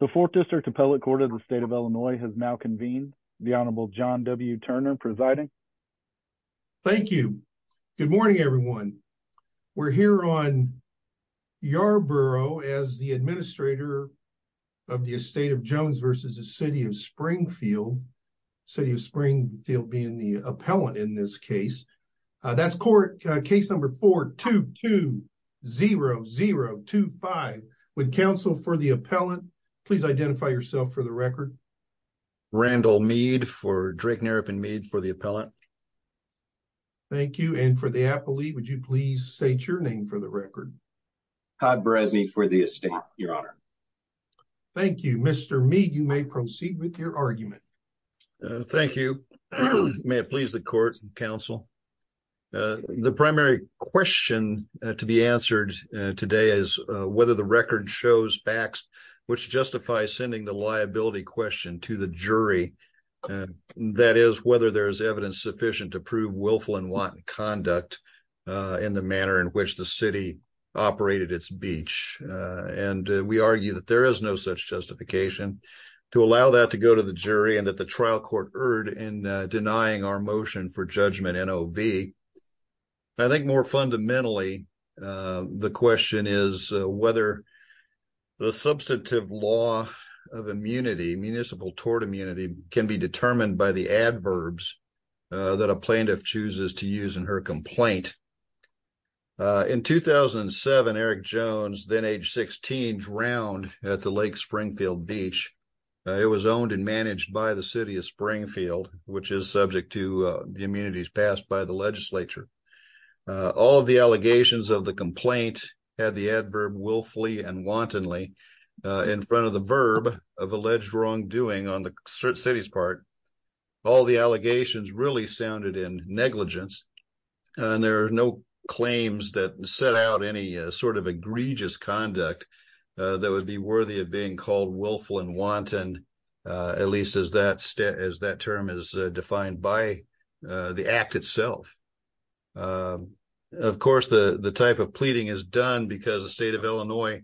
The Fourth District Appellate Court of the State of Illinois has now convened. The Honorable John W. Turner presiding. Thank you. Good morning everyone. We're here on Yarborough as the administrator of the Estate of Jones v. City of Springfield. City of Springfield being the appellant in this please identify yourself for the record. Randall Meade for Drake Naropin Meade for the appellant. Thank you and for the appellee would you please state your name for the record. Todd Brezny for the estate your honor. Thank you. Mr. Meade you may proceed with your argument. Thank you. May it please the court and counsel. The primary question to be answered today is whether the record shows facts which justify sending the liability question to the jury. That is whether there is evidence sufficient to prove willful and want conduct in the manner in which the city operated its beach. And we argue that there is no such justification to allow that to go to the jury and that the trial court erred in denying our motion for judgment NOV. I think more fundamentally the question is whether the substantive law of immunity municipal tort immunity can be determined by the adverbs that a plaintiff chooses to use in her complaint. In 2007 Eric Jones then age 16 drowned at the Lake Springfield beach. It was owned and managed by the all of the allegations of the complaint had the adverb willfully and wantonly in front of the verb of alleged wrongdoing on the city's part. All the allegations really sounded in negligence and there are no claims that set out any sort of egregious conduct that would be worthy of being called willful and wanton at least as that as that term is self. Of course the the type of pleading is done because the state of Illinois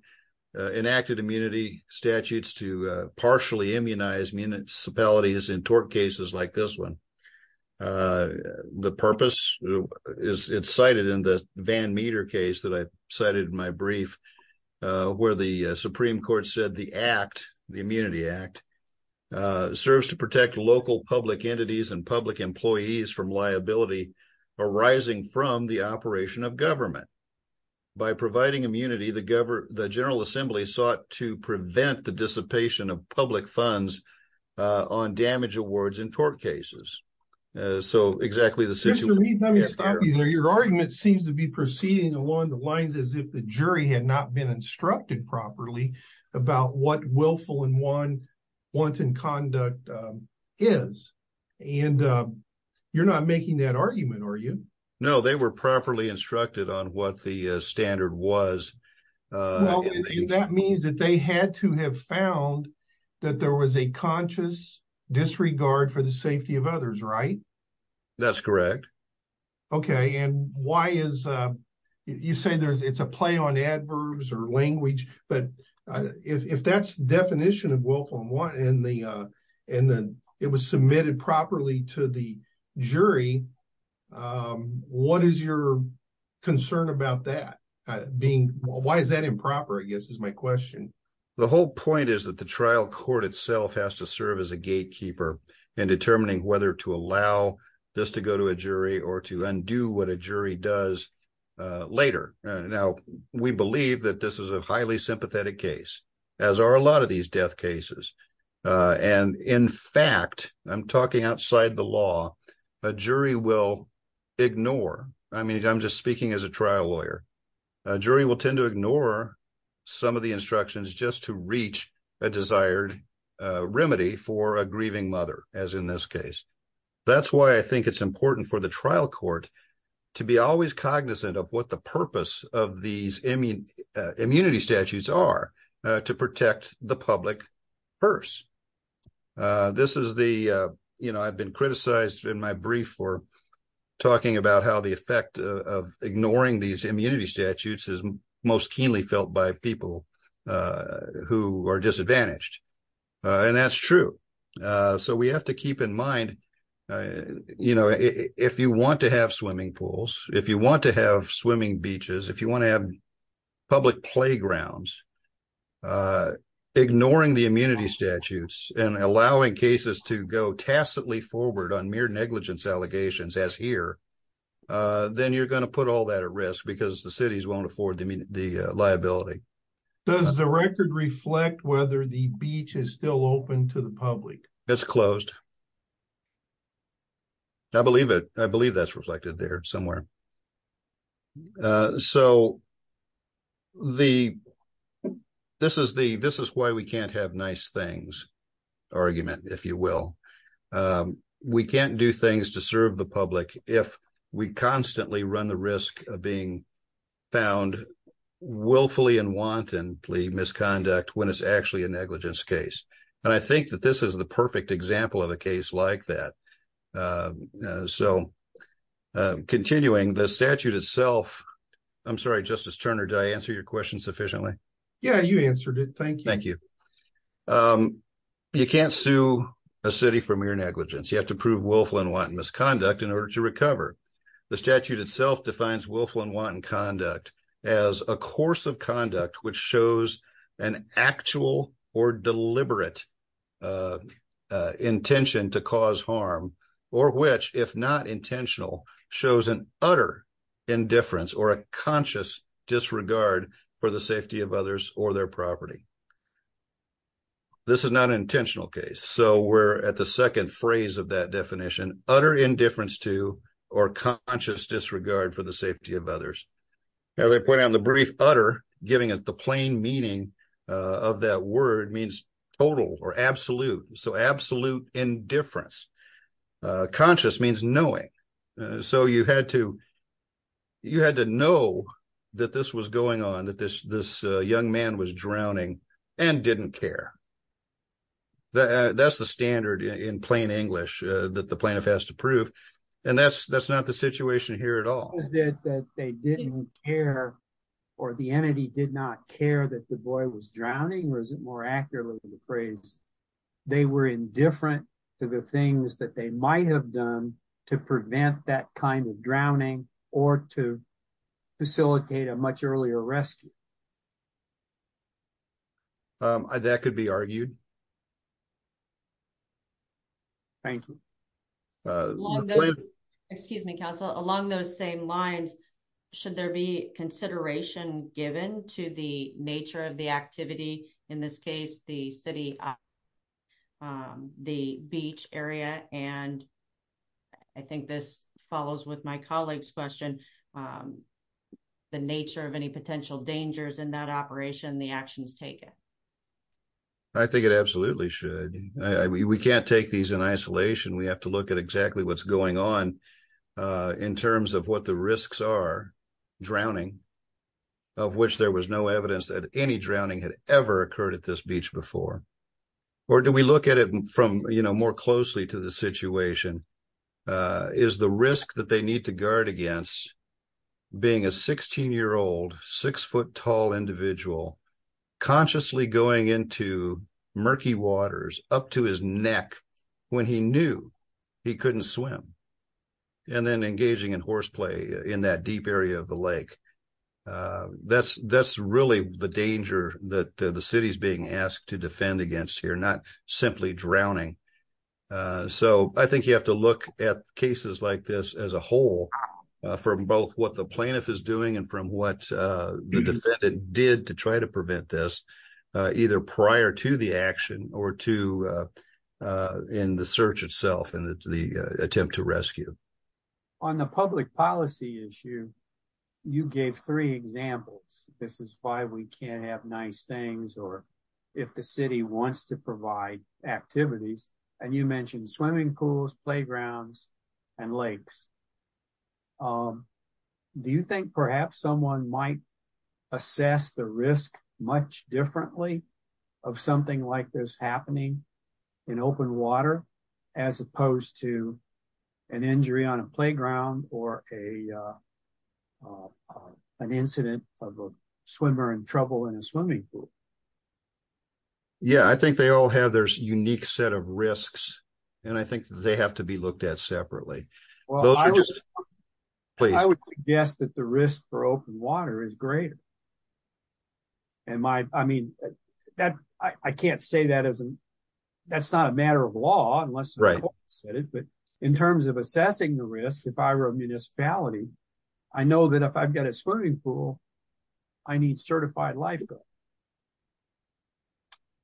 enacted immunity statutes to partially immunize municipalities in tort cases like this one. The purpose is it's cited in the Van Meter case that I cited in my brief where the Supreme Court said the act the Immunity Act serves to protect local public entities and public employees from liability arising from the operation of government. By providing immunity the government the General Assembly sought to prevent the dissipation of public funds on damage awards in tort cases. So exactly the situation. Let me stop you there your argument seems to be proceeding along the lines as if the jury had not been instructed properly about what willful and wanton conduct is and you're not making that argument are you? No they were properly instructed on what the standard was. That means that they had to have found that there was a conscious disregard for the safety of others right? That's correct. Okay and why is you say there's it's a play on adverbs or language but if that's the definition of willful and wanton and it was submitted properly to the jury what is your concern about that? Why is that improper I guess is my question. The whole point is that the trial court itself has to serve as a gatekeeper in determining whether to allow this to go to a jury or to undo what a jury does later. Now we believe that this is a sympathetic case as are a lot of these death cases and in fact I'm talking outside the law a jury will ignore I mean I'm just speaking as a trial lawyer a jury will tend to ignore some of the instructions just to reach a desired remedy for a grieving mother as in this case. That's why I think it's important for the trial court to be always cognizant of what the purpose of these immunity statutes are to protect the public first. This is the you know I've been criticized in my brief for talking about how the effect of ignoring these immunity statutes is most keenly felt by people who are disadvantaged and that's true. So we have to keep in mind you know if you want to have swimming pools if you want to have swimming beaches if you want to have public playgrounds ignoring the immunity statutes and allowing cases to go tacitly forward on mere negligence allegations as here then you're going to put all that at risk because the cities won't afford the liability. Does the record reflect whether the beach is still open to the public? It's closed. I believe it I believe that's reflected there somewhere. So the this is the this is why we can't have nice things argument if you will we can't do things to serve the public if we constantly run the risk of being found willfully and wantonly misconduct when it's actually a negligence case and I think that this is the perfect example of a case like that. So continuing the statute itself I'm sorry Justice Turner did I answer your question sufficiently? Yeah you answered it thank you. Thank you. You can't sue a city for mere negligence you have to prove willful and wanton misconduct in order to recover. The statute itself defines willful and wanton conduct as a course of conduct which shows an actual or deliberate intention to cause harm or which if not intentional shows an utter indifference or a conscious disregard for the safety of others or their property. This is not an intentional case so we're at the second phrase of that definition utter indifference to or conscious disregard for safety of others. Now they put on the brief utter giving it the plain meaning of that word means total or absolute so absolute indifference conscious means knowing so you had to you had to know that this was going on that this this young man was drowning and didn't care. That's the standard in plain English that the plaintiff has to prove and that's that's not the they didn't care or the entity did not care that the boy was drowning or is it more accurately the phrase they were indifferent to the things that they might have done to prevent that kind of drowning or to facilitate a much earlier rescue. That could be argued. Thank you uh excuse me counsel along those same lines should there be consideration given to the nature of the activity in this case the city um the beach area and I think this follows with my colleague's question um the nature of any potential dangers in that operation the actions taken. I think it absolutely should I mean we can't take these in isolation we have to look at exactly what's going on uh in terms of what the risks are drowning of which there was no evidence that any drowning had ever occurred at this beach before or do we look at it from you know more closely to the situation uh is the risk that they need to guard against being a 16 year old six foot tall individual consciously going into murky waters up to his neck when he knew he couldn't swim and then engaging in horseplay in that deep area of the lake uh that's that's really the danger that the city's being asked to defend against here not simply drowning uh so I think you have to look at cases like this as a whole from both what the plaintiff is doing and from what uh defendant did to try to prevent this uh either prior to the action or to uh in the search itself and the attempt to rescue on the public policy issue you gave three examples this is why we can't have nice things or if the city wants to provide activities and you mentioned swimming pools playgrounds and lakes um do you think perhaps someone might assess the risk much differently of something like this happening in open water as opposed to an injury on a playground or a uh an incident of a swimmer in trouble in a swimming pool yeah I think they all have their unique set of risks and I think they have to be looked at separately those are just please I would suggest that the risk for open water is greater am I I mean that I can't say that isn't that's not a matter of law unless right but in terms of assessing the risk if I were a municipality I know that if I've got a swimming pool I need lifeguards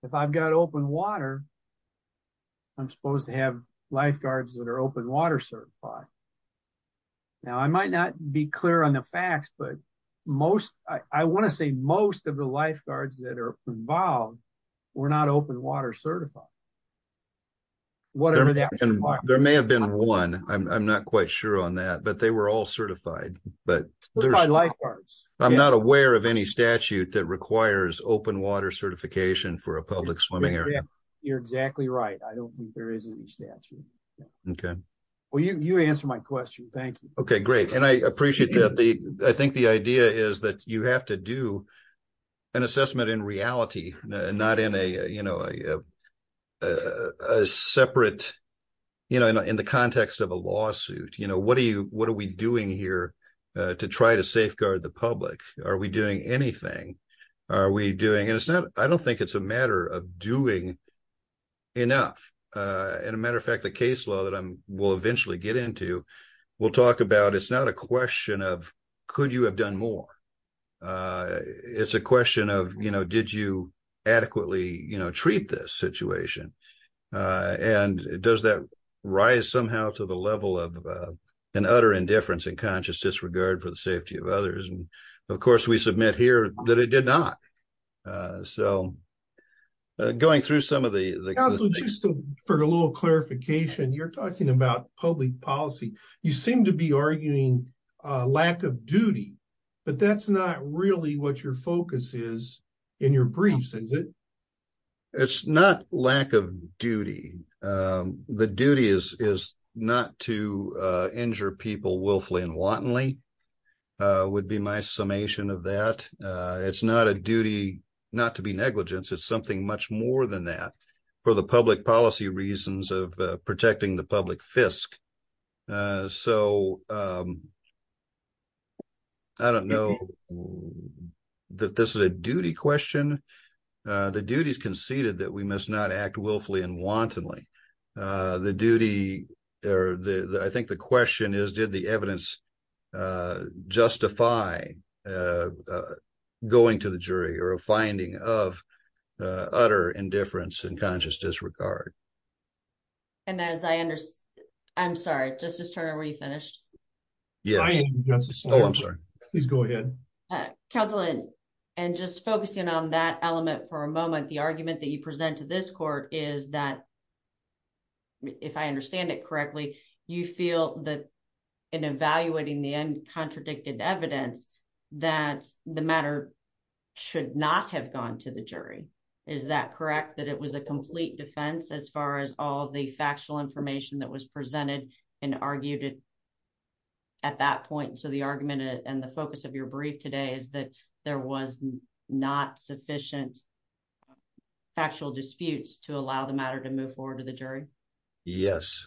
if I've got open water I'm supposed to have lifeguards that are open water certified now I might not be clear on the facts but most I want to say most of the lifeguards that are involved were not open water certified whatever that there may have been one I'm not quite sure on that but they were all certified but there's my lifeguards I'm not aware of any statute that requires open water certification for a public swimming area you're exactly right I don't think there is any statute okay well you you answer my question thank you okay great and I appreciate that the I think the idea is that you have to do an assessment in reality not in a you know a separate you know in the context of a lawsuit you know what are you what are we doing here to try to safeguard the public are we doing anything are we doing and it's not I don't think it's a matter of doing enough and a matter of fact the case law that I'm will eventually get into we'll talk about it's not a question of could you have done more it's a question of you know did you adequately you know treat this situation and does that rise somehow to the level of an utter indifference and conscious disregard for the safety of others and of course we submit here that it did not so going through some of the for a little clarification you're talking about public policy you seem to be arguing a lack of duty but that's not really what your focus is in your briefs is it it's not lack of duty the duty is is not to injure people willfully and wantonly would be my summation of that it's not a duty not to be negligence it's something much more than that for the public policy reasons of I don't know that this is a duty question the duties conceded that we must not act willfully and wantonly the duty or the I think the question is did the evidence justify going to the jury or a finding of utter indifference and conscious disregard and as I understand I'm sorry justice Turner were you finished yes I am just oh I'm sorry please go ahead counsel and just focusing on that element for a moment the argument that you present to this court is that if I understand it correctly you feel that in evaluating the uncontradicted evidence that the matter should not have gone to the jury is that correct that it was a complete defense as far as all the factual information that was presented and argued at that point so the argument and the focus of your brief today is that there was not sufficient factual disputes to allow the matter to move forward to the jury yes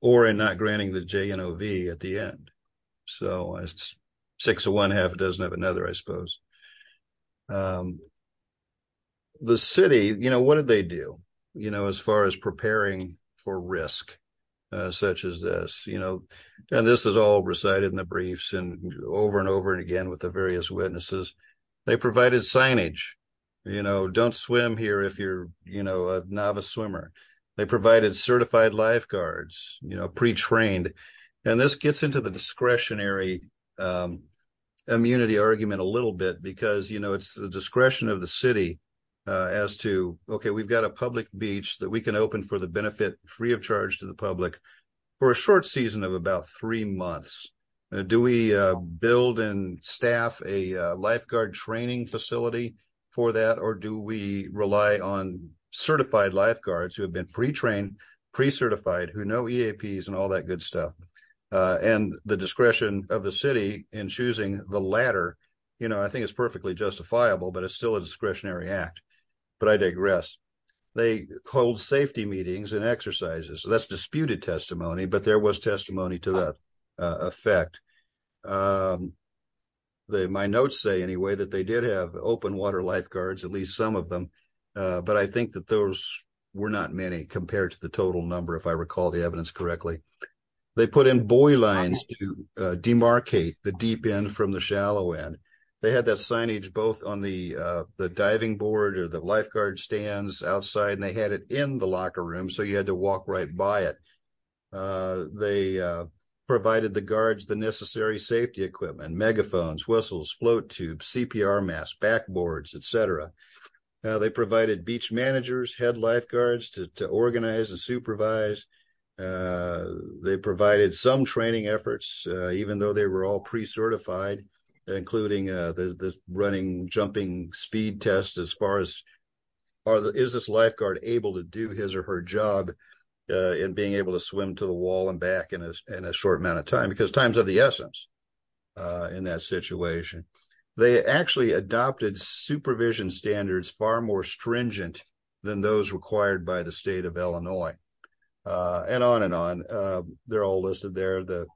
or in not granting the JNOV at the end so it's six of one half it doesn't have another I suppose the city you know what did they do you know as far as preparing for risk such as this you know and this is all recited in the briefs and over and over and again with the various witnesses they provided signage you know don't swim here if you're you know a novice swimmer they provided certified lifeguards you know pre-trained and this gets into the discretionary immunity argument a little bit because you know it's the discretion of the city as to okay we've got a public beach that we can open for the benefit free of charge to the public for a short season of about three months do we build and staff a lifeguard training facility for that or do we rely on certified lifeguards who have been pre-trained pre-certified who know all that good stuff and the discretion of the city in choosing the latter you know I think it's perfectly justifiable but it's still a discretionary act but I digress they called safety meetings and exercises so that's disputed testimony but there was testimony to that effect my notes say anyway that they did have open water lifeguards at least some of them but I think that those were not many compared to the total number if I recall the evidence correctly they put in boy lines to demarcate the deep end from the shallow end they had that signage both on the the diving board or the lifeguard stands outside and they had it in the locker room so you had to walk right by it they provided the guards the necessary safety equipment megaphones whistles float tubes cpr mass backboards etc they provided beach managers had lifeguards to organize and supervise they provided some training efforts even though they were all pre-certified including the running jumping speed test as far as is this lifeguard able to do his or her job and being able to swim to the wall and back in a short amount of time because times are the essence in that situation they actually adopted supervision standards far more stringent than those required by the state of illinois and on and on they're all listed there the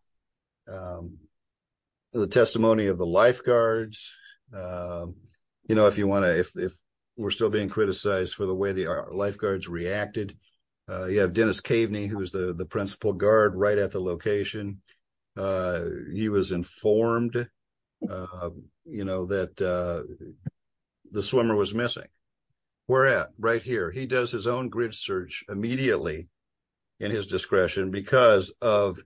the testimony of the lifeguards you know if you want to if we're still being criticized for the way the lifeguards reacted you have dennis caveney who's the the principal guard right at the location uh he was informed uh you know that uh the swimmer was missing where at right here he does his own grid search immediately in his discretion because of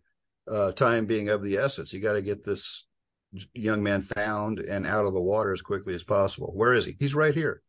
time being of the essence you got to get this young man found and out of the water as quickly as possible where is he he's right here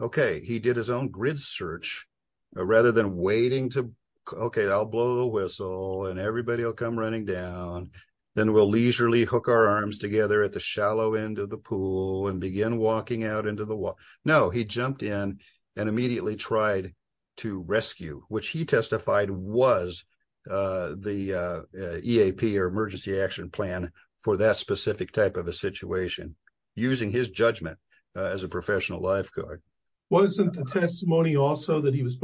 okay he did his own grid search rather than waiting to okay i'll blow the whistle and everybody will come running down then we'll leisurely hook our arms together at the shallow end of the pool and begin walking out into the wall no he jumped in and immediately tried to rescue which he testified was uh the eap or emergency action plan for that specific type of a situation using his judgment as a professional lifeguard wasn't the testimony also that he was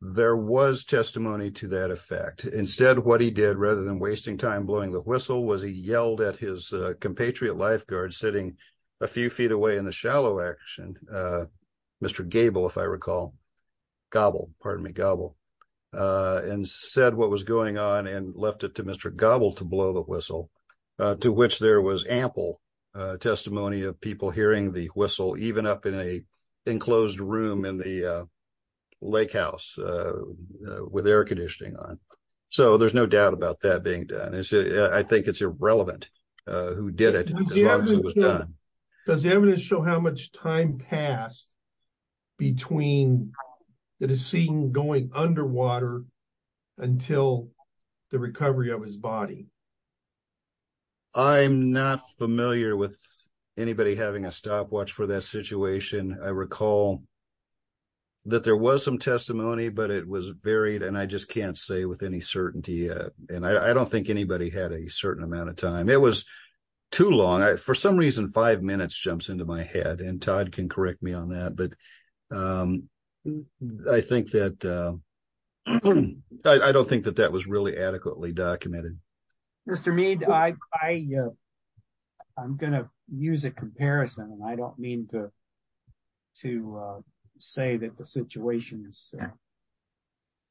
there was testimony to that effect instead what he did rather than wasting time blowing the whistle was he yelled at his compatriot lifeguard sitting a few feet away in the shallow action uh mr gable if i recall gobble pardon me gobble uh and said what was going on and left it to mr gobble to blow the whistle uh to which there was ample uh testimony of people hearing the with air conditioning on so there's no doubt about that being done i think it's irrelevant who did it as long as it was done does the evidence show how much time passed between that is seen going underwater until the recovery of his body i'm not familiar with anybody having a stopwatch for that situation i recall that there was some testimony but it was varied and i just can't say with any certainty and i don't think anybody had a certain amount of time it was too long for some reason five minutes jumps into my head and todd can correct me on that but um i think that uh i don't think that that was really adequately documented mr mead i i i'm gonna use a comparison and i don't mean to to uh say that the situations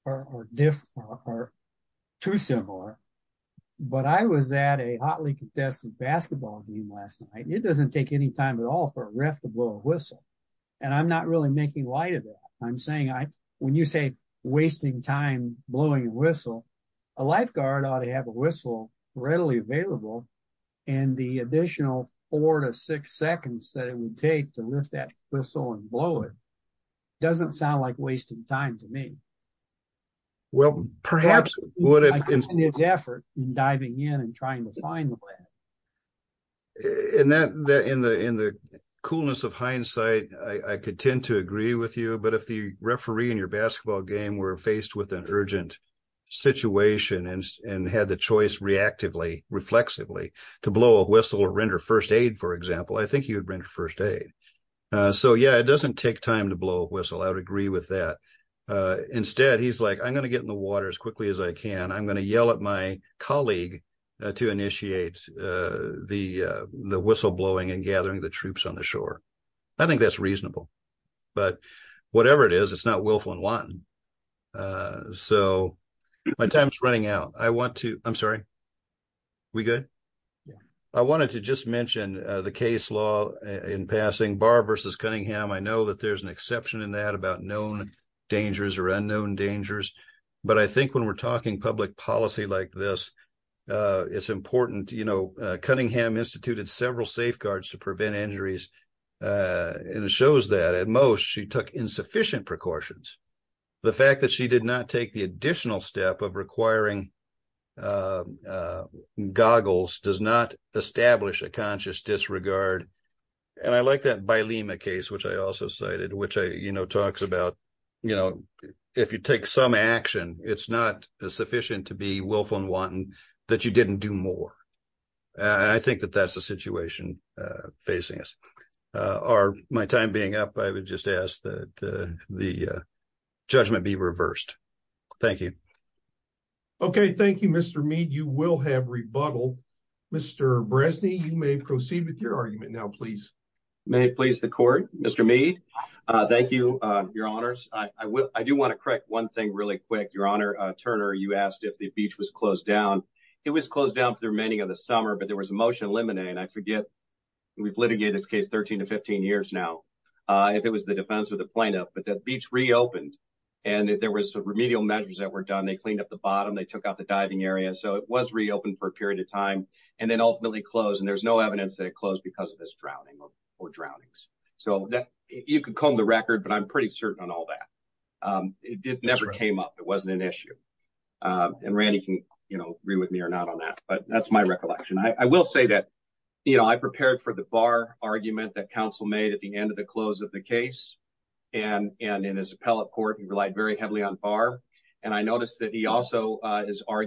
are different or too similar but i was at a hotly contested basketball game last night it doesn't take any time at all for a ref to blow a whistle and i'm not really making light of that i'm saying i when you say wasting time blowing a whistle a lifeguard ought to have a whistle readily available and the additional four to six seconds that it takes to lift that whistle and blow it doesn't sound like wasting time to me well perhaps what if in his effort in diving in and trying to find the way and that that in the in the coolness of hindsight i i could tend to agree with you but if the referee in your basketball game were faced with an urgent situation and and had the choice reactively reflexively to blow a whistle or render first aid for example i think you would render first aid uh so yeah it doesn't take time to blow a whistle i would agree with that uh instead he's like i'm going to get in the water as quickly as i can i'm going to yell at my colleague to initiate uh the uh the whistle blowing and gathering the troops on the shore i think that's reasonable but whatever it is it's not willful and wanton uh so my time's running out i want to i'm in passing barb versus cunningham i know that there's an exception in that about known dangers or unknown dangers but i think when we're talking public policy like this uh it's important you know cunningham instituted several safeguards to prevent injuries uh and it shows that at most she took insufficient precautions the fact that she did not take the i like that by lima case which i also cited which i you know talks about you know if you take some action it's not sufficient to be willful and wanton that you didn't do more and i think that that's the situation uh facing us uh are my time being up i would just ask that the judgment be reversed thank you okay thank you mr mead you will have rebuttal mr bresny you may proceed with your argument now please may it please the court mr mead uh thank you uh your honors i i will i do want to correct one thing really quick your honor uh turner you asked if the beach was closed down it was closed down for the remaining of the summer but there was a motion eliminate and i forget we've litigated this case 13 to 15 years now uh if it was the defense or the plaintiff but that beach reopened and there was remedial measures that were done they cleaned up the bottom they took out the diving area so it was reopened for a period of time and then ultimately closed and there's no evidence that it closed because of this drowning or drownings so that you could comb the record but i'm pretty certain on all that um it did never came up it wasn't an issue um and randy can you know agree with me or not on that but that's my recollection i will say that you know i prepared for the bar argument that council made at the end of the close of the case and and in his appellate court he relied very heavily on bar and i noticed that he also uh is i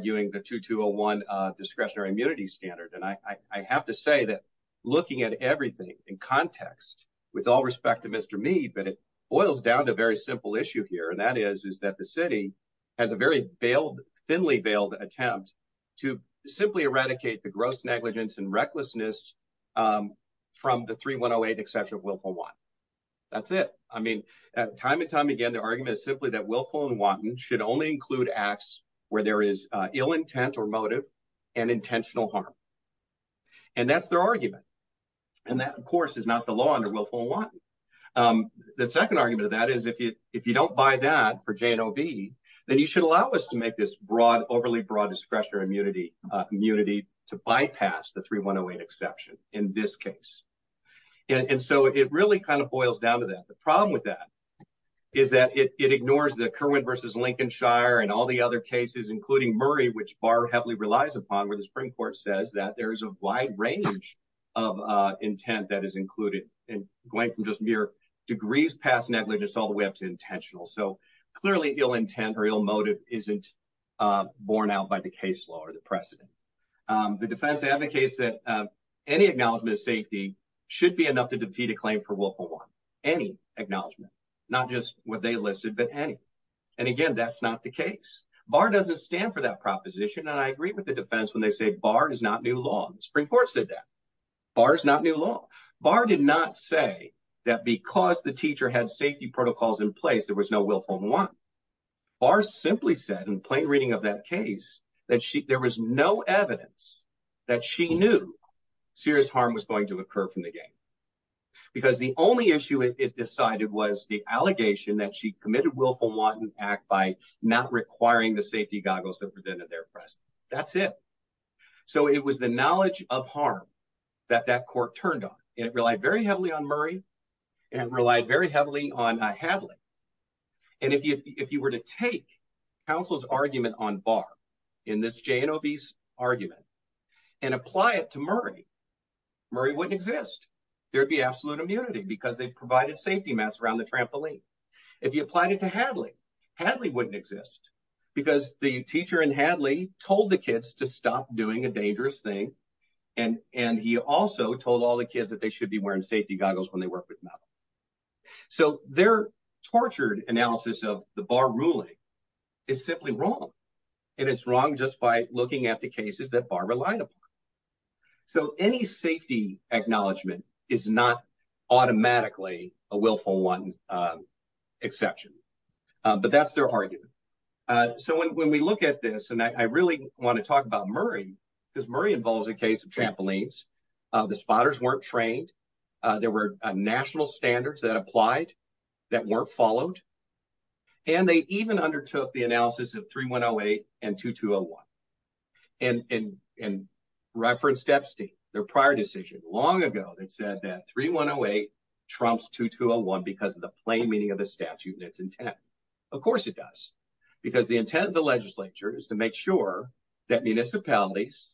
have to say that looking at everything in context with all respect to mr mead but it boils down to a very simple issue here and that is is that the city has a very veiled thinly veiled attempt to simply eradicate the gross negligence and recklessness um from the 3108 exception of willful one that's it i mean time and time again the argument is simply that willful and wanton should only include acts where there is ill intent or motive and intentional harm and that's their argument and that of course is not the law under willful one um the second argument of that is if you if you don't buy that for jnov then you should allow us to make this broad overly broad discretion or immunity uh community to bypass the 3108 exception in this case and and so it really kind of boils down to that the problem with that is that it ignores the kirwin versus lincolnshire and all the other cases including murray which bar heavily relies upon where the supreme court says that there is a wide range of uh intent that is included and going from just mere degrees past negligence all the way up to intentional so clearly ill intent or ill motive isn't uh borne out by the case law or the precedent um the defense advocates that any acknowledgement of safety should be enough to defeat a claim for willful one any acknowledgement not just what they listed but any and again that's not the case bar doesn't stand for that proposition and i agree with the defense when they say bar is not new law the supreme court said that bar is not new law bar did not say that because the teacher had safety protocols in place there was no willful one bar simply said in plain reading of that case that she there was no evidence that she knew serious harm was going to occur from the game because the only issue it decided was the allegation that she committed willful wanton act by not requiring the safety goggles that presented their press that's it so it was the knowledge of harm that that court turned on and it relied very heavily on murray and relied very heavily on hadley and if you if you were to take counsel's argument on bar in this jnob's argument and apply it to murray murray wouldn't exist there'd be absolute immunity because they provided safety mats around the trampoline if you applied it to hadley hadley wouldn't exist because the teacher and hadley told the kids to stop doing a dangerous thing and and he also told all the kids that they should be wearing safety goggles when they work with metal so their tortured analysis of the bar is simply wrong and it's wrong just by looking at the cases that bar relied upon so any safety acknowledgement is not automatically a willful one exception but that's their argument so when we look at this and i really want to talk about murray because murray involves a case of trampolines uh the spotters weren't trained uh there were national standards that applied that weren't followed and they even undertook the analysis of 3108 and 2201 and and and referenced epstein their prior decision long ago that said that 3108 trumps 2201 because of the plain meaning of the statute and its intent of course it does because the intent of the legislature is to make sure that municipalities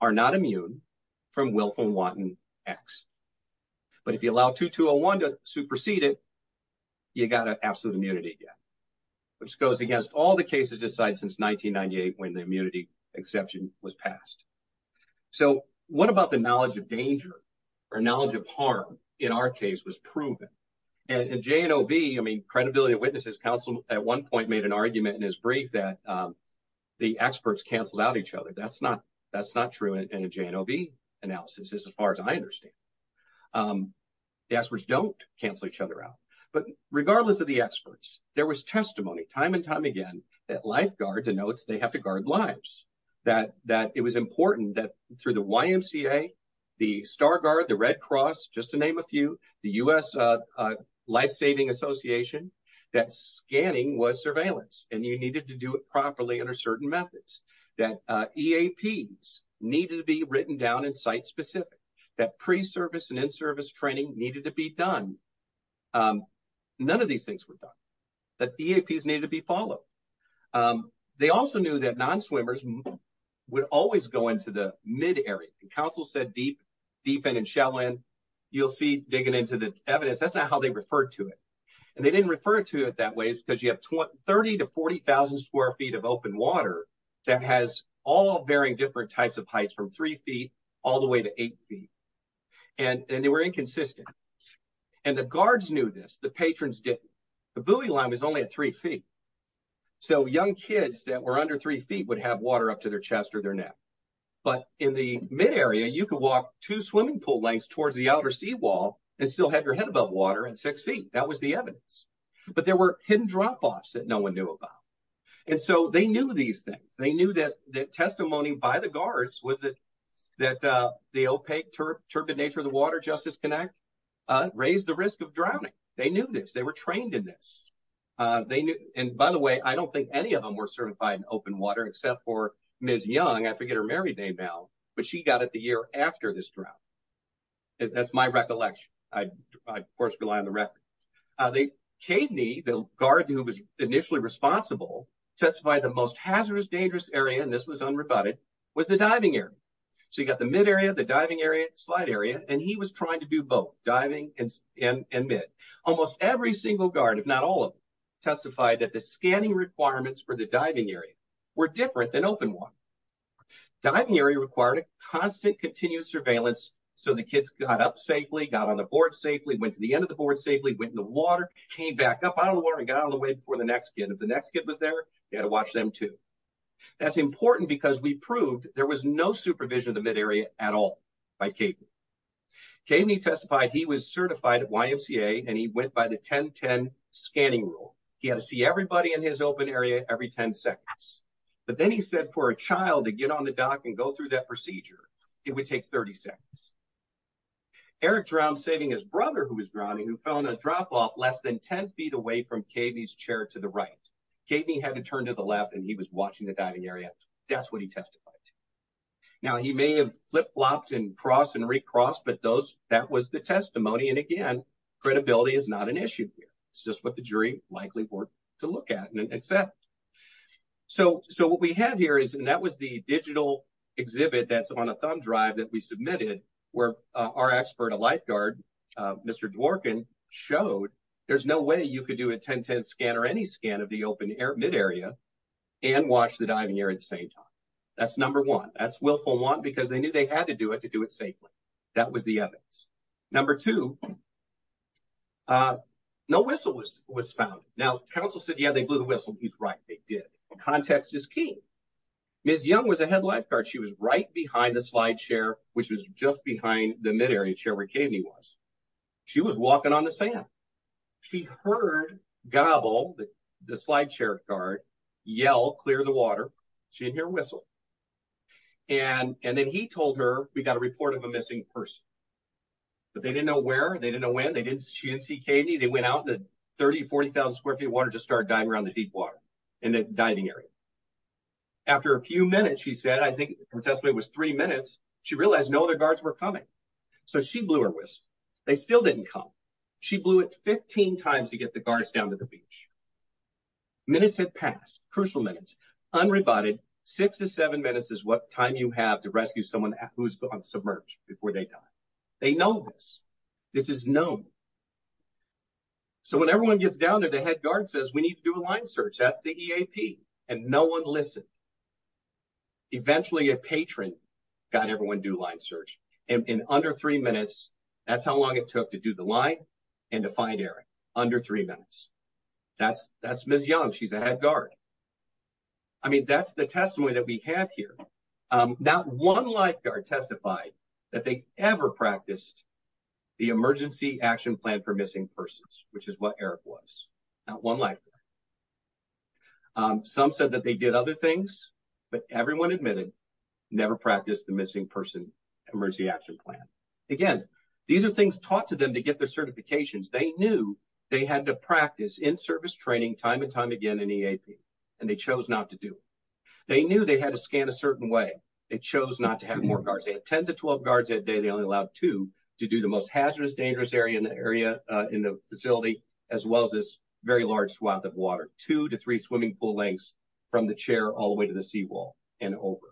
are not immune from wilf and wanton x but if you allow 2201 to supersede it you got an absolute immunity yet which goes against all the cases decided since 1998 when the immunity exception was passed so what about the knowledge of danger or knowledge of harm in our case was proven and jnov i mean credibility witnesses counsel at one point made an argument in his brief that um the experts canceled out each other that's not that's not true in a jnov analysis as far as i understand um the experts don't cancel each other out but regardless of the experts there was testimony time and time again that lifeguard denotes they have to guard lives that that it was important that through the ymca the star guard the red cross just to name a few the u.s uh life saving association that scanning was surveillance and you needed to do it properly under certain methods that eaps needed to be written down in site specific that pre-service and in-service training needed to be done none of these things were done that eaps needed to be followed they also knew that non-swimmers would always go into the mid area and council said deep deep end and shallow end you'll see digging into the evidence that's not how they referred to it and they didn't refer to it that way because you have 20 30 to 40 000 square feet of open water that has all varying different types of heights from three feet all the way to eight feet and and they were inconsistent and the guards knew this the patrons didn't the buoy line was only at three feet so young kids that were under three feet would have water up to their chest or their neck but in the mid area you could walk two swimming pool lengths towards the outer seawall and still have your head above water and six feet that was the evidence but there were hidden drop that no one knew about and so they knew these things they knew that that testimony by the guards was that that uh the opaque turbid nature of the water justice connect uh raised the risk of drowning they knew this they were trained in this uh they knew and by the way i don't think any of them were certified in open water except for ms young i forget her married name now but she got it the year after this drought that's my recollection i of course rely on the record they came to me the guard who was initially responsible testified the most hazardous dangerous area and this was unrebutted was the diving area so you got the mid area the diving area slide area and he was trying to do both diving and and mid almost every single guard if not all of them testified that the scanning requirements for the diving area were different than open water diving area required a constant continuous surveillance so the kids got up safely got on the board safely went to the end of the board safely went in the water came back up out of the water and got out of the way before the next kid if the next kid was there you had to watch them too that's important because we proved there was no supervision of the mid area at all by katie katie testified he was certified at ymca and he went by the 10 10 scanning rule he had to see everybody in his open area every 10 seconds but then he said for a child to get on the dock and go through that procedure it would take 30 seconds eric drowned saving his brother who was drowning who fell in a drop-off less than 10 feet away from kv's chair to the right katie had to turn to the left and he was watching the diving area that's what he testified now he may have flip-flopped and crossed and recrossed but those that was the testimony and again credibility is not an issue here it's just what the jury likely worked to look at and accept so so what we have here is and that was the digital exhibit that's on a thumb drive that we submitted where our expert a lifeguard uh mr dworkin showed there's no way you could do a 10 10 scan or any scan of the open air mid area and watch the diving area at the same time that's number one that's willful one because they knew they had to do it to do it safely that was the evidence number two uh no whistle was was found now council said yeah they blew the whistle he's right they did and context is key ms young was a head lifeguard she was right behind the slide chair which was just behind the mid-area chair where katie was she was walking on the sand she heard gobble the slide chair guard yell clear the water she didn't hear a whistle and and then he told her we got a report of a missing person but they didn't know where they didn't know when they didn't she didn't see katie they went out to 30 40 000 square feet of water to start dying around the deep water in the diving area after a few minutes she said i think her testimony was three minutes she realized no other guards were coming so she blew her whistle they still didn't come she blew it 15 times to get the guards down to the beach minutes had passed crucial minutes unrebutted six to seven minutes is what time you have to rescue someone who's submerged before they die they know this this is known so when everyone gets down there the head guard says we need to do a line search that's the eap and no one listened eventually a patron got everyone do line search in under three minutes that's how long it took to do the line and to find eric under three minutes that's that's ms young she's a head guard i mean that's the testimony that we have here um not one lifeguard testified that they ever practiced the emergency action plan for missing persons which is what eric was not one life some said that they did other things but everyone admitted never practiced the missing person emergency action plan again these are things taught to them to get their certifications they knew they had to practice in-service training time and time again in eap and they chose not to do they knew they had to scan a certain way they chose not to have more guards they had 10 to 12 guards that day they only allowed two to do the most hazardous dangerous area in the area uh in the facility as well as this very large swath of water two to three swimming pool lengths from the chair all the way to the seawall and over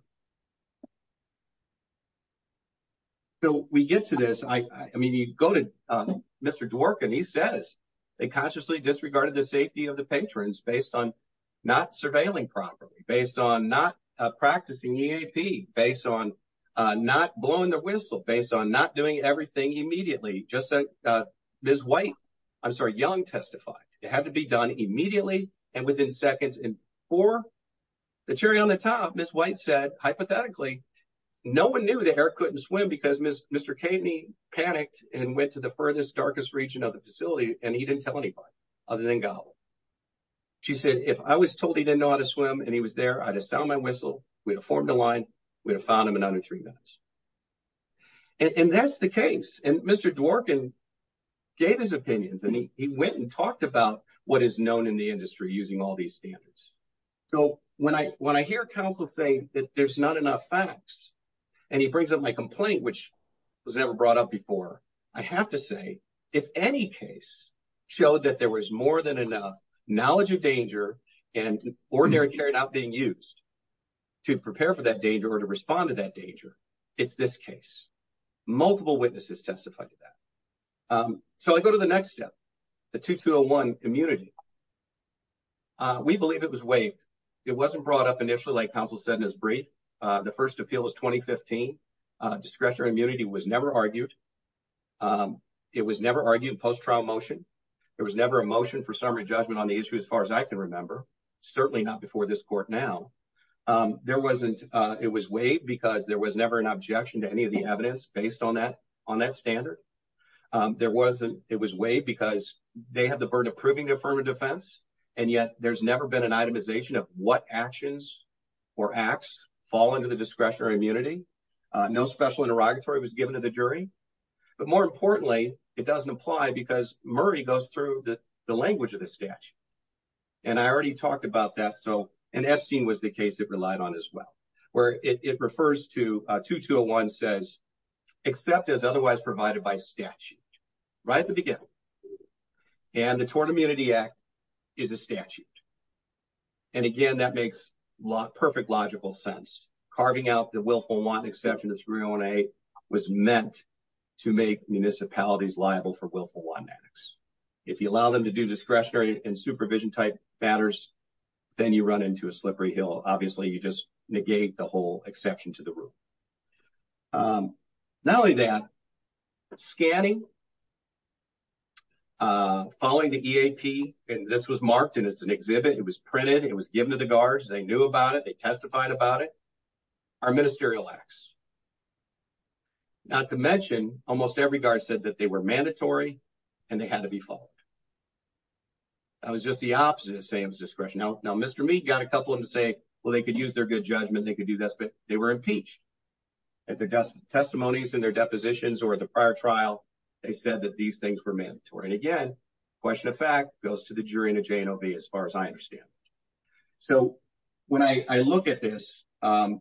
so we get to this i i mean you go to um mr dworkin he says they consciously disregarded the safety of the patrons based on not surveilling properly based on not uh practicing eap based on not blowing the whistle based on not doing everything immediately just uh ms white i'm sorry young testified it had to be done immediately and within seconds and for the cherry on the top ms white said hypothetically no one knew that eric couldn't swim because mr kateny panicked and went to the furthest darkest region of the facility and he didn't tell anybody other than gobble she said if i was told he didn't know how to swim and he was there i'd have sound my whistle we'd have formed a line we'd have found him in under three minutes and that's the case and mr dworkin gave his opinions and he went and talked about what is known in the industry using all these standards so when i when i hear counsel say that there's not enough facts and he brings up my complaint which was never brought up before i have to say if any case showed that there was more than enough knowledge of danger and ordinary carried out being used to prepare for that danger or to respond to that danger it's this case multiple witnesses testified to that um so i go to the next step the 2201 immunity uh we believe it was waived it wasn't brought up initially like counsel said in his brief uh the first appeal was 2015 uh discretionary immunity was never argued um it was never argued post-trial motion there was never a motion for summary judgment on the issue as far as i can remember certainly not before this court now um there wasn't uh it was waived because there was never an objection to any of the evidence based on that on that standard um there wasn't it was waived because they have the burden of proving their firm of defense and yet there's never been an itemization of what actions or acts fall under the discretionary immunity uh no special interrogatory was given to the jury but more importantly it doesn't apply because murray goes through the the language of the statute and i already talked about that so and epstein was the case it relied on as well where it refers to uh 2201 says except as otherwise provided by statute right at the beginning and the tort immunity act is a statute and again that makes perfect logical sense carving out the willful one exception to 308 was meant to make municipalities liable for willful one annex if you allow them to do discretionary and supervision type matters then you run into a slippery hill obviously you just negate the whole exception to the rule um not only that scanning uh following the eap and this was marked and it's an exhibit it was printed it was given to the guards they knew about it they testified about it our ministerial acts not to mention almost every guard said that they were mandatory and they had to be followed that was just the opposite of sam's discretion now now mr meet got a couple of them to say well they could use their good judgment they could do this but they were impeached at the testimonies and their depositions or the prior trial they said that these things were mandatory and again question of fact goes to the jury in a jnov as far as i understand so when i i look at this um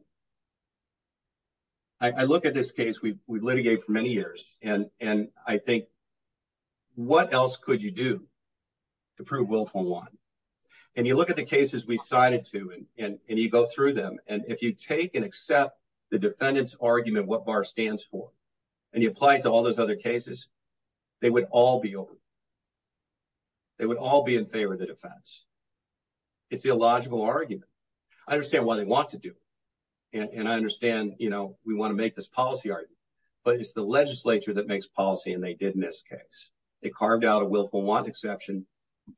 i look at this case we've litigated for many years and and i think what else could you do to prove willful one and you look at the cases we cited to and and you go through them and if you take and accept the defendant's argument what bar stands for and you apply it to all those other cases they would all be over they would all be in favor of the defense it's the illogical argument i understand what they want to do and i understand you know we want to make this policy argument but it's the legislature that makes policy and they did in this case they carved out a willful want exception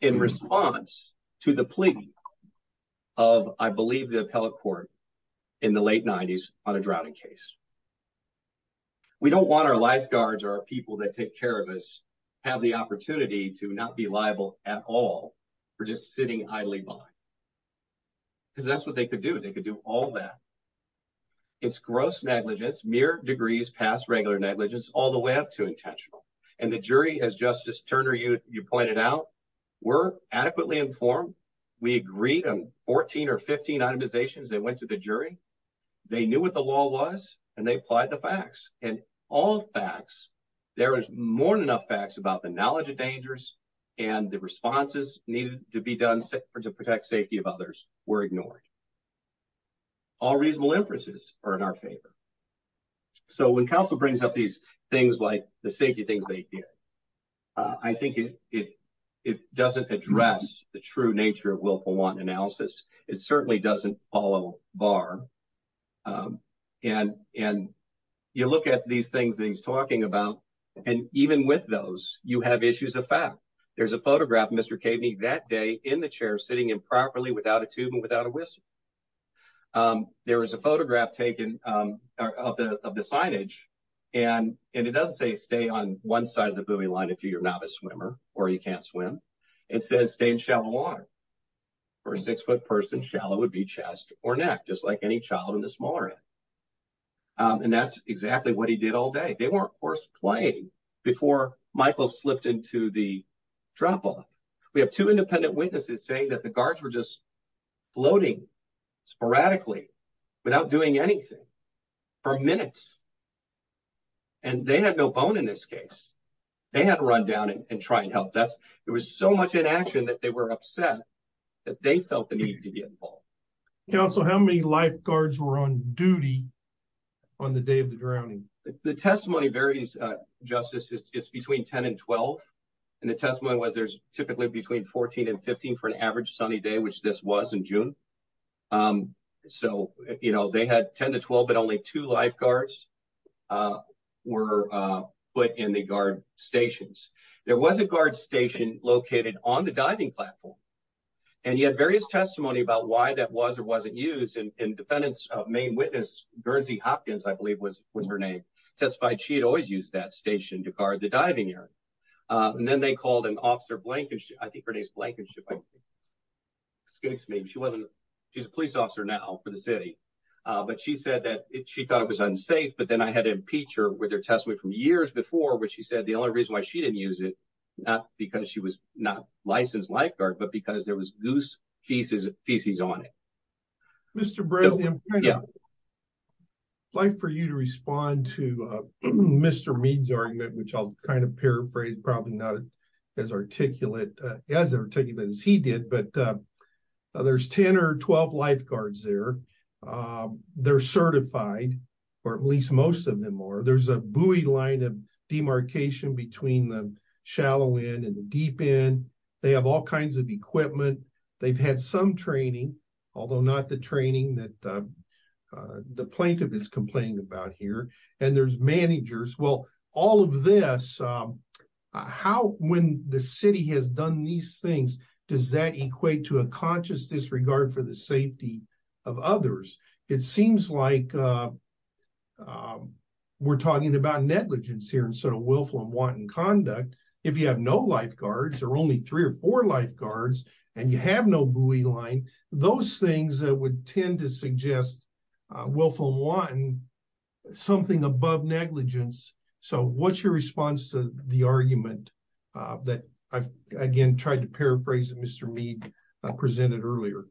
in response to the plea of i believe the appellate court in the late 90s on a drowning case we don't want our lifeguards or our people that take care of us have the opportunity to not be liable at all for just sitting idly by because that's what they could do they could do all that it's gross negligence mere degrees past regular negligence all the way up to intentional and the jury as justice turner you you pointed out were adequately informed we agreed on 14 or 15 itemizations they went to the jury they knew what the law was and they applied the facts and all facts there is more than enough facts about the knowledge of dangers and the responses needed to be done to protect safety of others were ignored all reasonable inferences are in our favor so when council brings up these things like the safety things they did i think it it doesn't address the true nature of willful want analysis it certainly doesn't follow bar and and you look at these things that he's talking about and even with those you have issues of fact there's a photograph mr cavney that day in the chair sitting improperly without a tube and without a whistle there was a photograph taken of the of the signage and and it doesn't say stay on one side of the buoy line if you're not a swimmer or you can't swim it says stay in shallow water for a six-foot person shallow would be chest or neck just like any child in the smaller end and that's exactly what he did all day they were of course playing before michael slipped into the drop-off we have two independent witnesses saying that the guards were just floating sporadically without doing anything for minutes and they had no bone in this case they had to run down and try and help that's there was so much inaction that they were upset that they felt the need to be involved council how many lifeguards were on duty on the day of the drowning the testimony varies uh justice it's between 10 and 12 and the testimony was there's typically between 14 and 15 for an average sunny day which this was in uh were uh put in the guard stations there was a guard station located on the diving platform and he had various testimony about why that was or wasn't used and defendants main witness guernsey hopkins i believe was was her name testified she had always used that station to guard the diving area and then they called an officer blank and i think her name's blank and excuse me she wasn't she's a police officer now for the city uh but she said that she thought it was unsafe but then i had to impeach her with her testimony from years before which she said the only reason why she didn't use it not because she was not licensed lifeguard but because there was goose feces feces on it mr brazil yeah like for you to respond to uh mr mead's argument which i'll kind of paraphrase probably not as articulate as articulate as he did but uh there's 10 or 12 lifeguards there they're certified or at least most of them are there's a buoy line of demarcation between the shallow end and the deep end they have all kinds of equipment they've had some training although not the training that the plaintiff is complaining about here and there's managers well all of this how when the city has done these things does that equate to a conscious disregard for the safety of others it seems like we're talking about negligence here instead of willful and wanton conduct if you have no lifeguards or only three or four lifeguards and you have no buoy line those things that would tend to suggest willful and wanton something above negligence so what's your response to the argument that i've again tried to paraphrase that mr mead presented earlier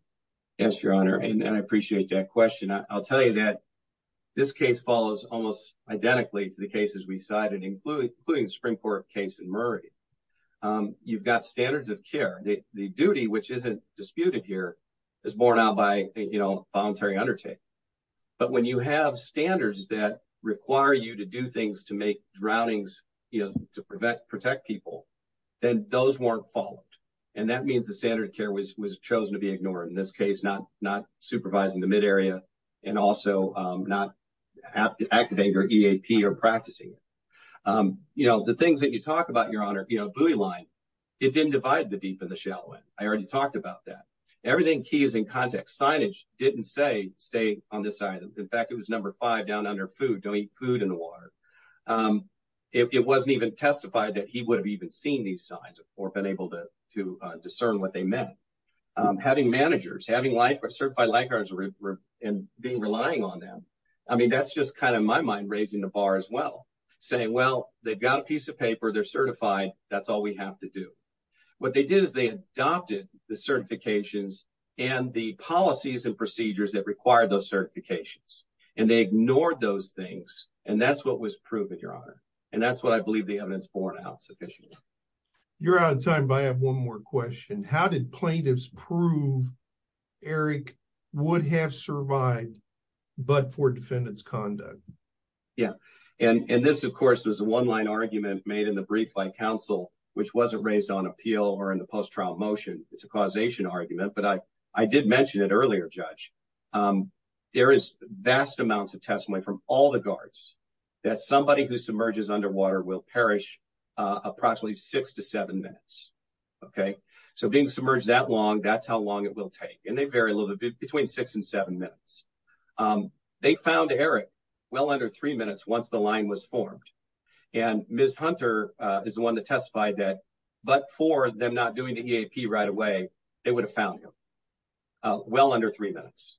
yes your honor and i appreciate that question i'll tell you that this case follows almost identically to the cases we cited including including the spring court case in murray um you've got standards of care the duty which isn't disputed here is borne out by you know voluntary undertaking but when you have standards that require you to do things to make drownings you know to prevent protect people then those weren't followed and that means the standard care was chosen to be ignored in this case not not supervising the mid area and also not active anger eap or practicing it you know the things that you talk about your honor you know buoy line it didn't divide the deep and the shallow end i already talked about that everything key is in context signage didn't say stay on this item in fact it was number five down under food don't eat food in the water it wasn't even testified that he would have even seen these signs or been able to to discern what they meant having managers having life or certified lifeguards and being relying on them i mean that's just kind of my mind raising the bar as well saying well they've got a piece of paper they're certified that's all we have to do what they did is they adopted the certifications and the policies and procedures that required those certifications and they ignored those things and that's what was proven your honor and that's what i believe the sufficient you're out of time but i have one more question how did plaintiffs prove eric would have survived but for defendant's conduct yeah and and this of course was a one-line argument made in the brief by counsel which wasn't raised on appeal or in the post-trial motion it's a causation argument but i i did mention it earlier judge um there is vast amounts of approximately six to seven minutes okay so being submerged that long that's how long it will take and they vary a little bit between six and seven minutes um they found eric well under three minutes once the line was formed and ms hunter uh is the one that testified that but for them not doing the eap right away they would have found him uh well under three minutes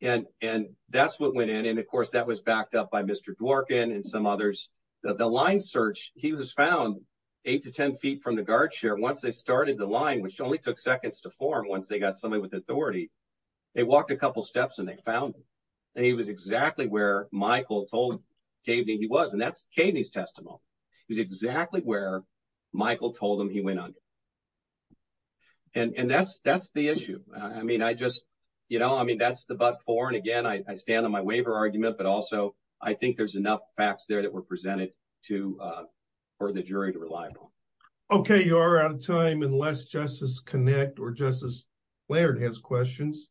and and that's what went in and of course that was backed up by mr dworkin and some others the line search he was found eight to ten feet from the guard chair once they started the line which only took seconds to form once they got somebody with authority they walked a couple steps and they found him and he was exactly where michael told kv he was and that's katie's testimony he's exactly where michael told him he went under and and that's that's the issue i mean i just you know i mean that's the but for and again i stand on my waiver argument but also i think there's enough facts there that were presented to uh for the jury to reliable okay you are out of time unless justice connect or justice layered has questions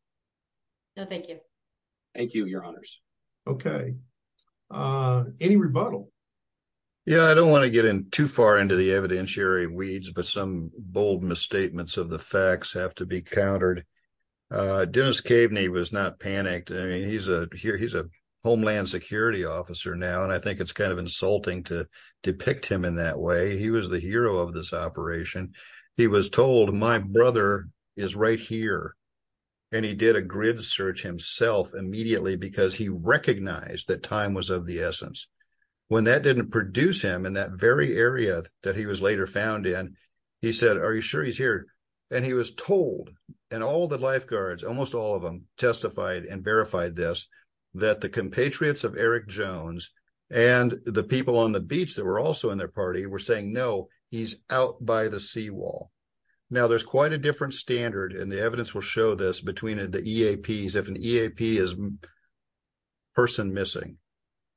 no thank you thank you your honors okay uh any rebuttal yeah i don't want to get in too far into the evidentiary weeds but some bold misstatements of the facts have to be countered uh dennis caveney was not panicked i he's a homeland security officer now and i think it's kind of insulting to depict him in that way he was the hero of this operation he was told my brother is right here and he did a grid search himself immediately because he recognized that time was of the essence when that didn't produce him in that very area that he was later found in he said are you sure he's here and he was told and all the lifeguards almost all of them testified and verified this that the compatriots of eric jones and the people on the beach that were also in their party were saying no he's out by the seawall now there's quite a different standard and the evidence will show this between the eaps if an eap is person missing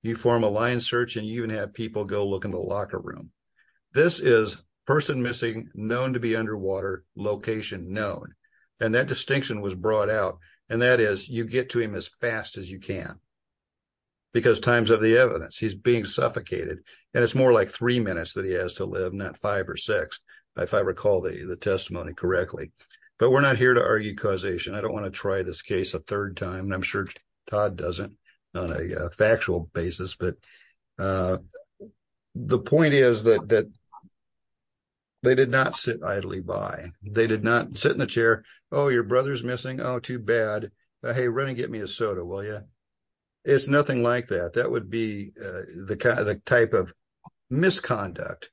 you form a line search and you even have people go look in locker room this is person missing known to be underwater location known and that distinction was brought out and that is you get to him as fast as you can because times of the evidence he's being suffocated and it's more like three minutes that he has to live not five or six if i recall the testimony correctly but we're not here to argue causation i don't want to try this case a third and i'm sure todd doesn't on a factual basis but uh the point is that that they did not sit idly by they did not sit in the chair oh your brother's missing oh too bad hey run and get me a soda will ya it's nothing like that that would be the kind of the type of misconduct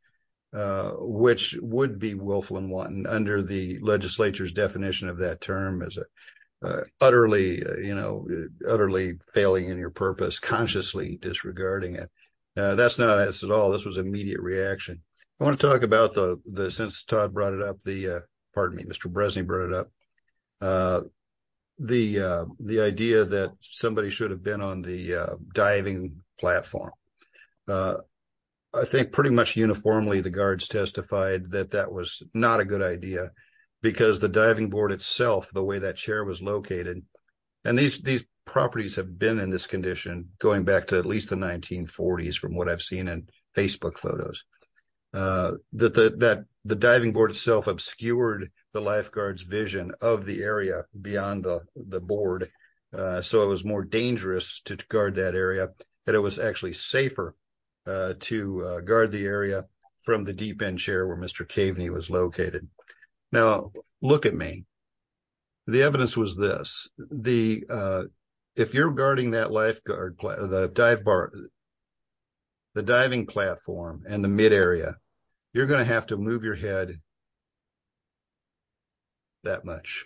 uh which would be willful and wanton under the legislature's definition of that term as a utterly you know utterly failing in your purpose consciously disregarding it now that's not us at all this was immediate reaction i want to talk about the the since todd brought it up the pardon me mr breslin brought it up uh the uh the idea that somebody should have been on the uh diving platform uh i think pretty much uniformly the guards testified that that was not a good idea because the diving board itself the way that chair was located and these these properties have been in this condition going back to at least the 1940s from what i've seen in facebook photos uh that the that the diving board itself obscured the lifeguards vision of the area beyond the the board uh so it was more dangerous to guard that area and it was actually safer uh to guard the now look at me the evidence was this the uh if you're guarding that lifeguard the dive bar the diving platform and the mid area you're going to have to move your head that much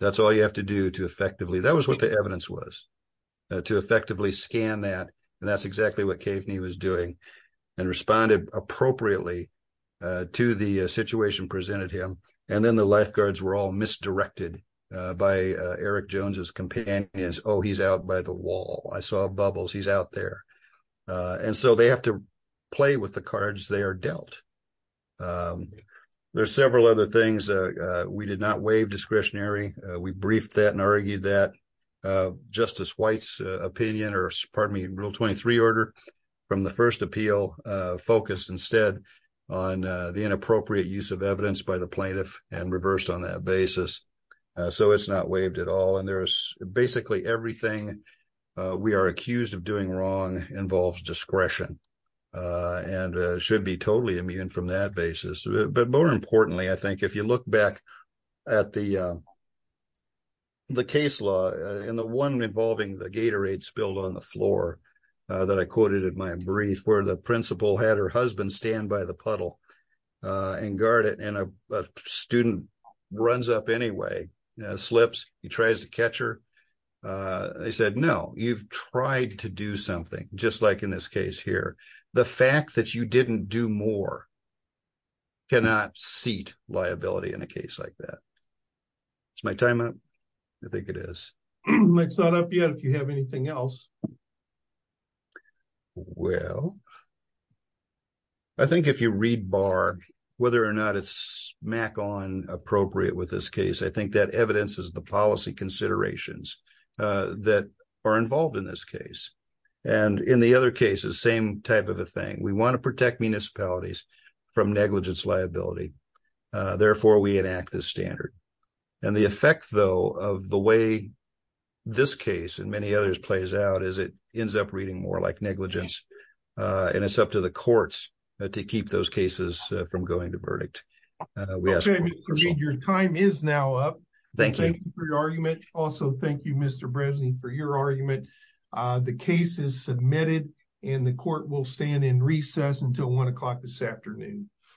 that's all you have to do to effectively that was what the evidence was to effectively scan that and that's exactly what cave knee was doing and responded appropriately to the situation presented him and then the lifeguards were all misdirected by eric jones's companions oh he's out by the wall i saw bubbles he's out there and so they have to play with the cards they are dealt um there's several other things uh we did not waive discretionary we briefed that and argued that uh justice white's opinion or pardon me rule 23 order from the first appeal uh focused instead on the inappropriate use of evidence by the plaintiff and reversed on that basis so it's not waived at all and there's basically everything we are accused of doing wrong involves discretion and should be totally immune from that basis but more importantly i think if you look back at the the case law and the one involving the gatorade spilled on the floor that i quoted in my brief where the principal had her husband stand by the puddle uh and guard it and a student runs up anyway slips he tries to catch her uh they said no you've tried to do something just like in this case here the fact that you didn't do more cannot seat liability in a case like that it's my time i think it is it's not up yet if you have anything else well i think if you read bar whether or not it's smack on appropriate with this case i think that evidence is the policy considerations uh that are involved in this case and in the other cases same type of a thing we want to protect municipalities from negligence liability therefore we enact this standard and the effect though of the way this case and many others plays out is it ends up reading more like negligence and it's up to the courts to keep those cases from going to verdict your time is now up thank you for your argument also thank you mr breslin for your argument the case is submitted and the court will stand in recess until one o'clock this afternoon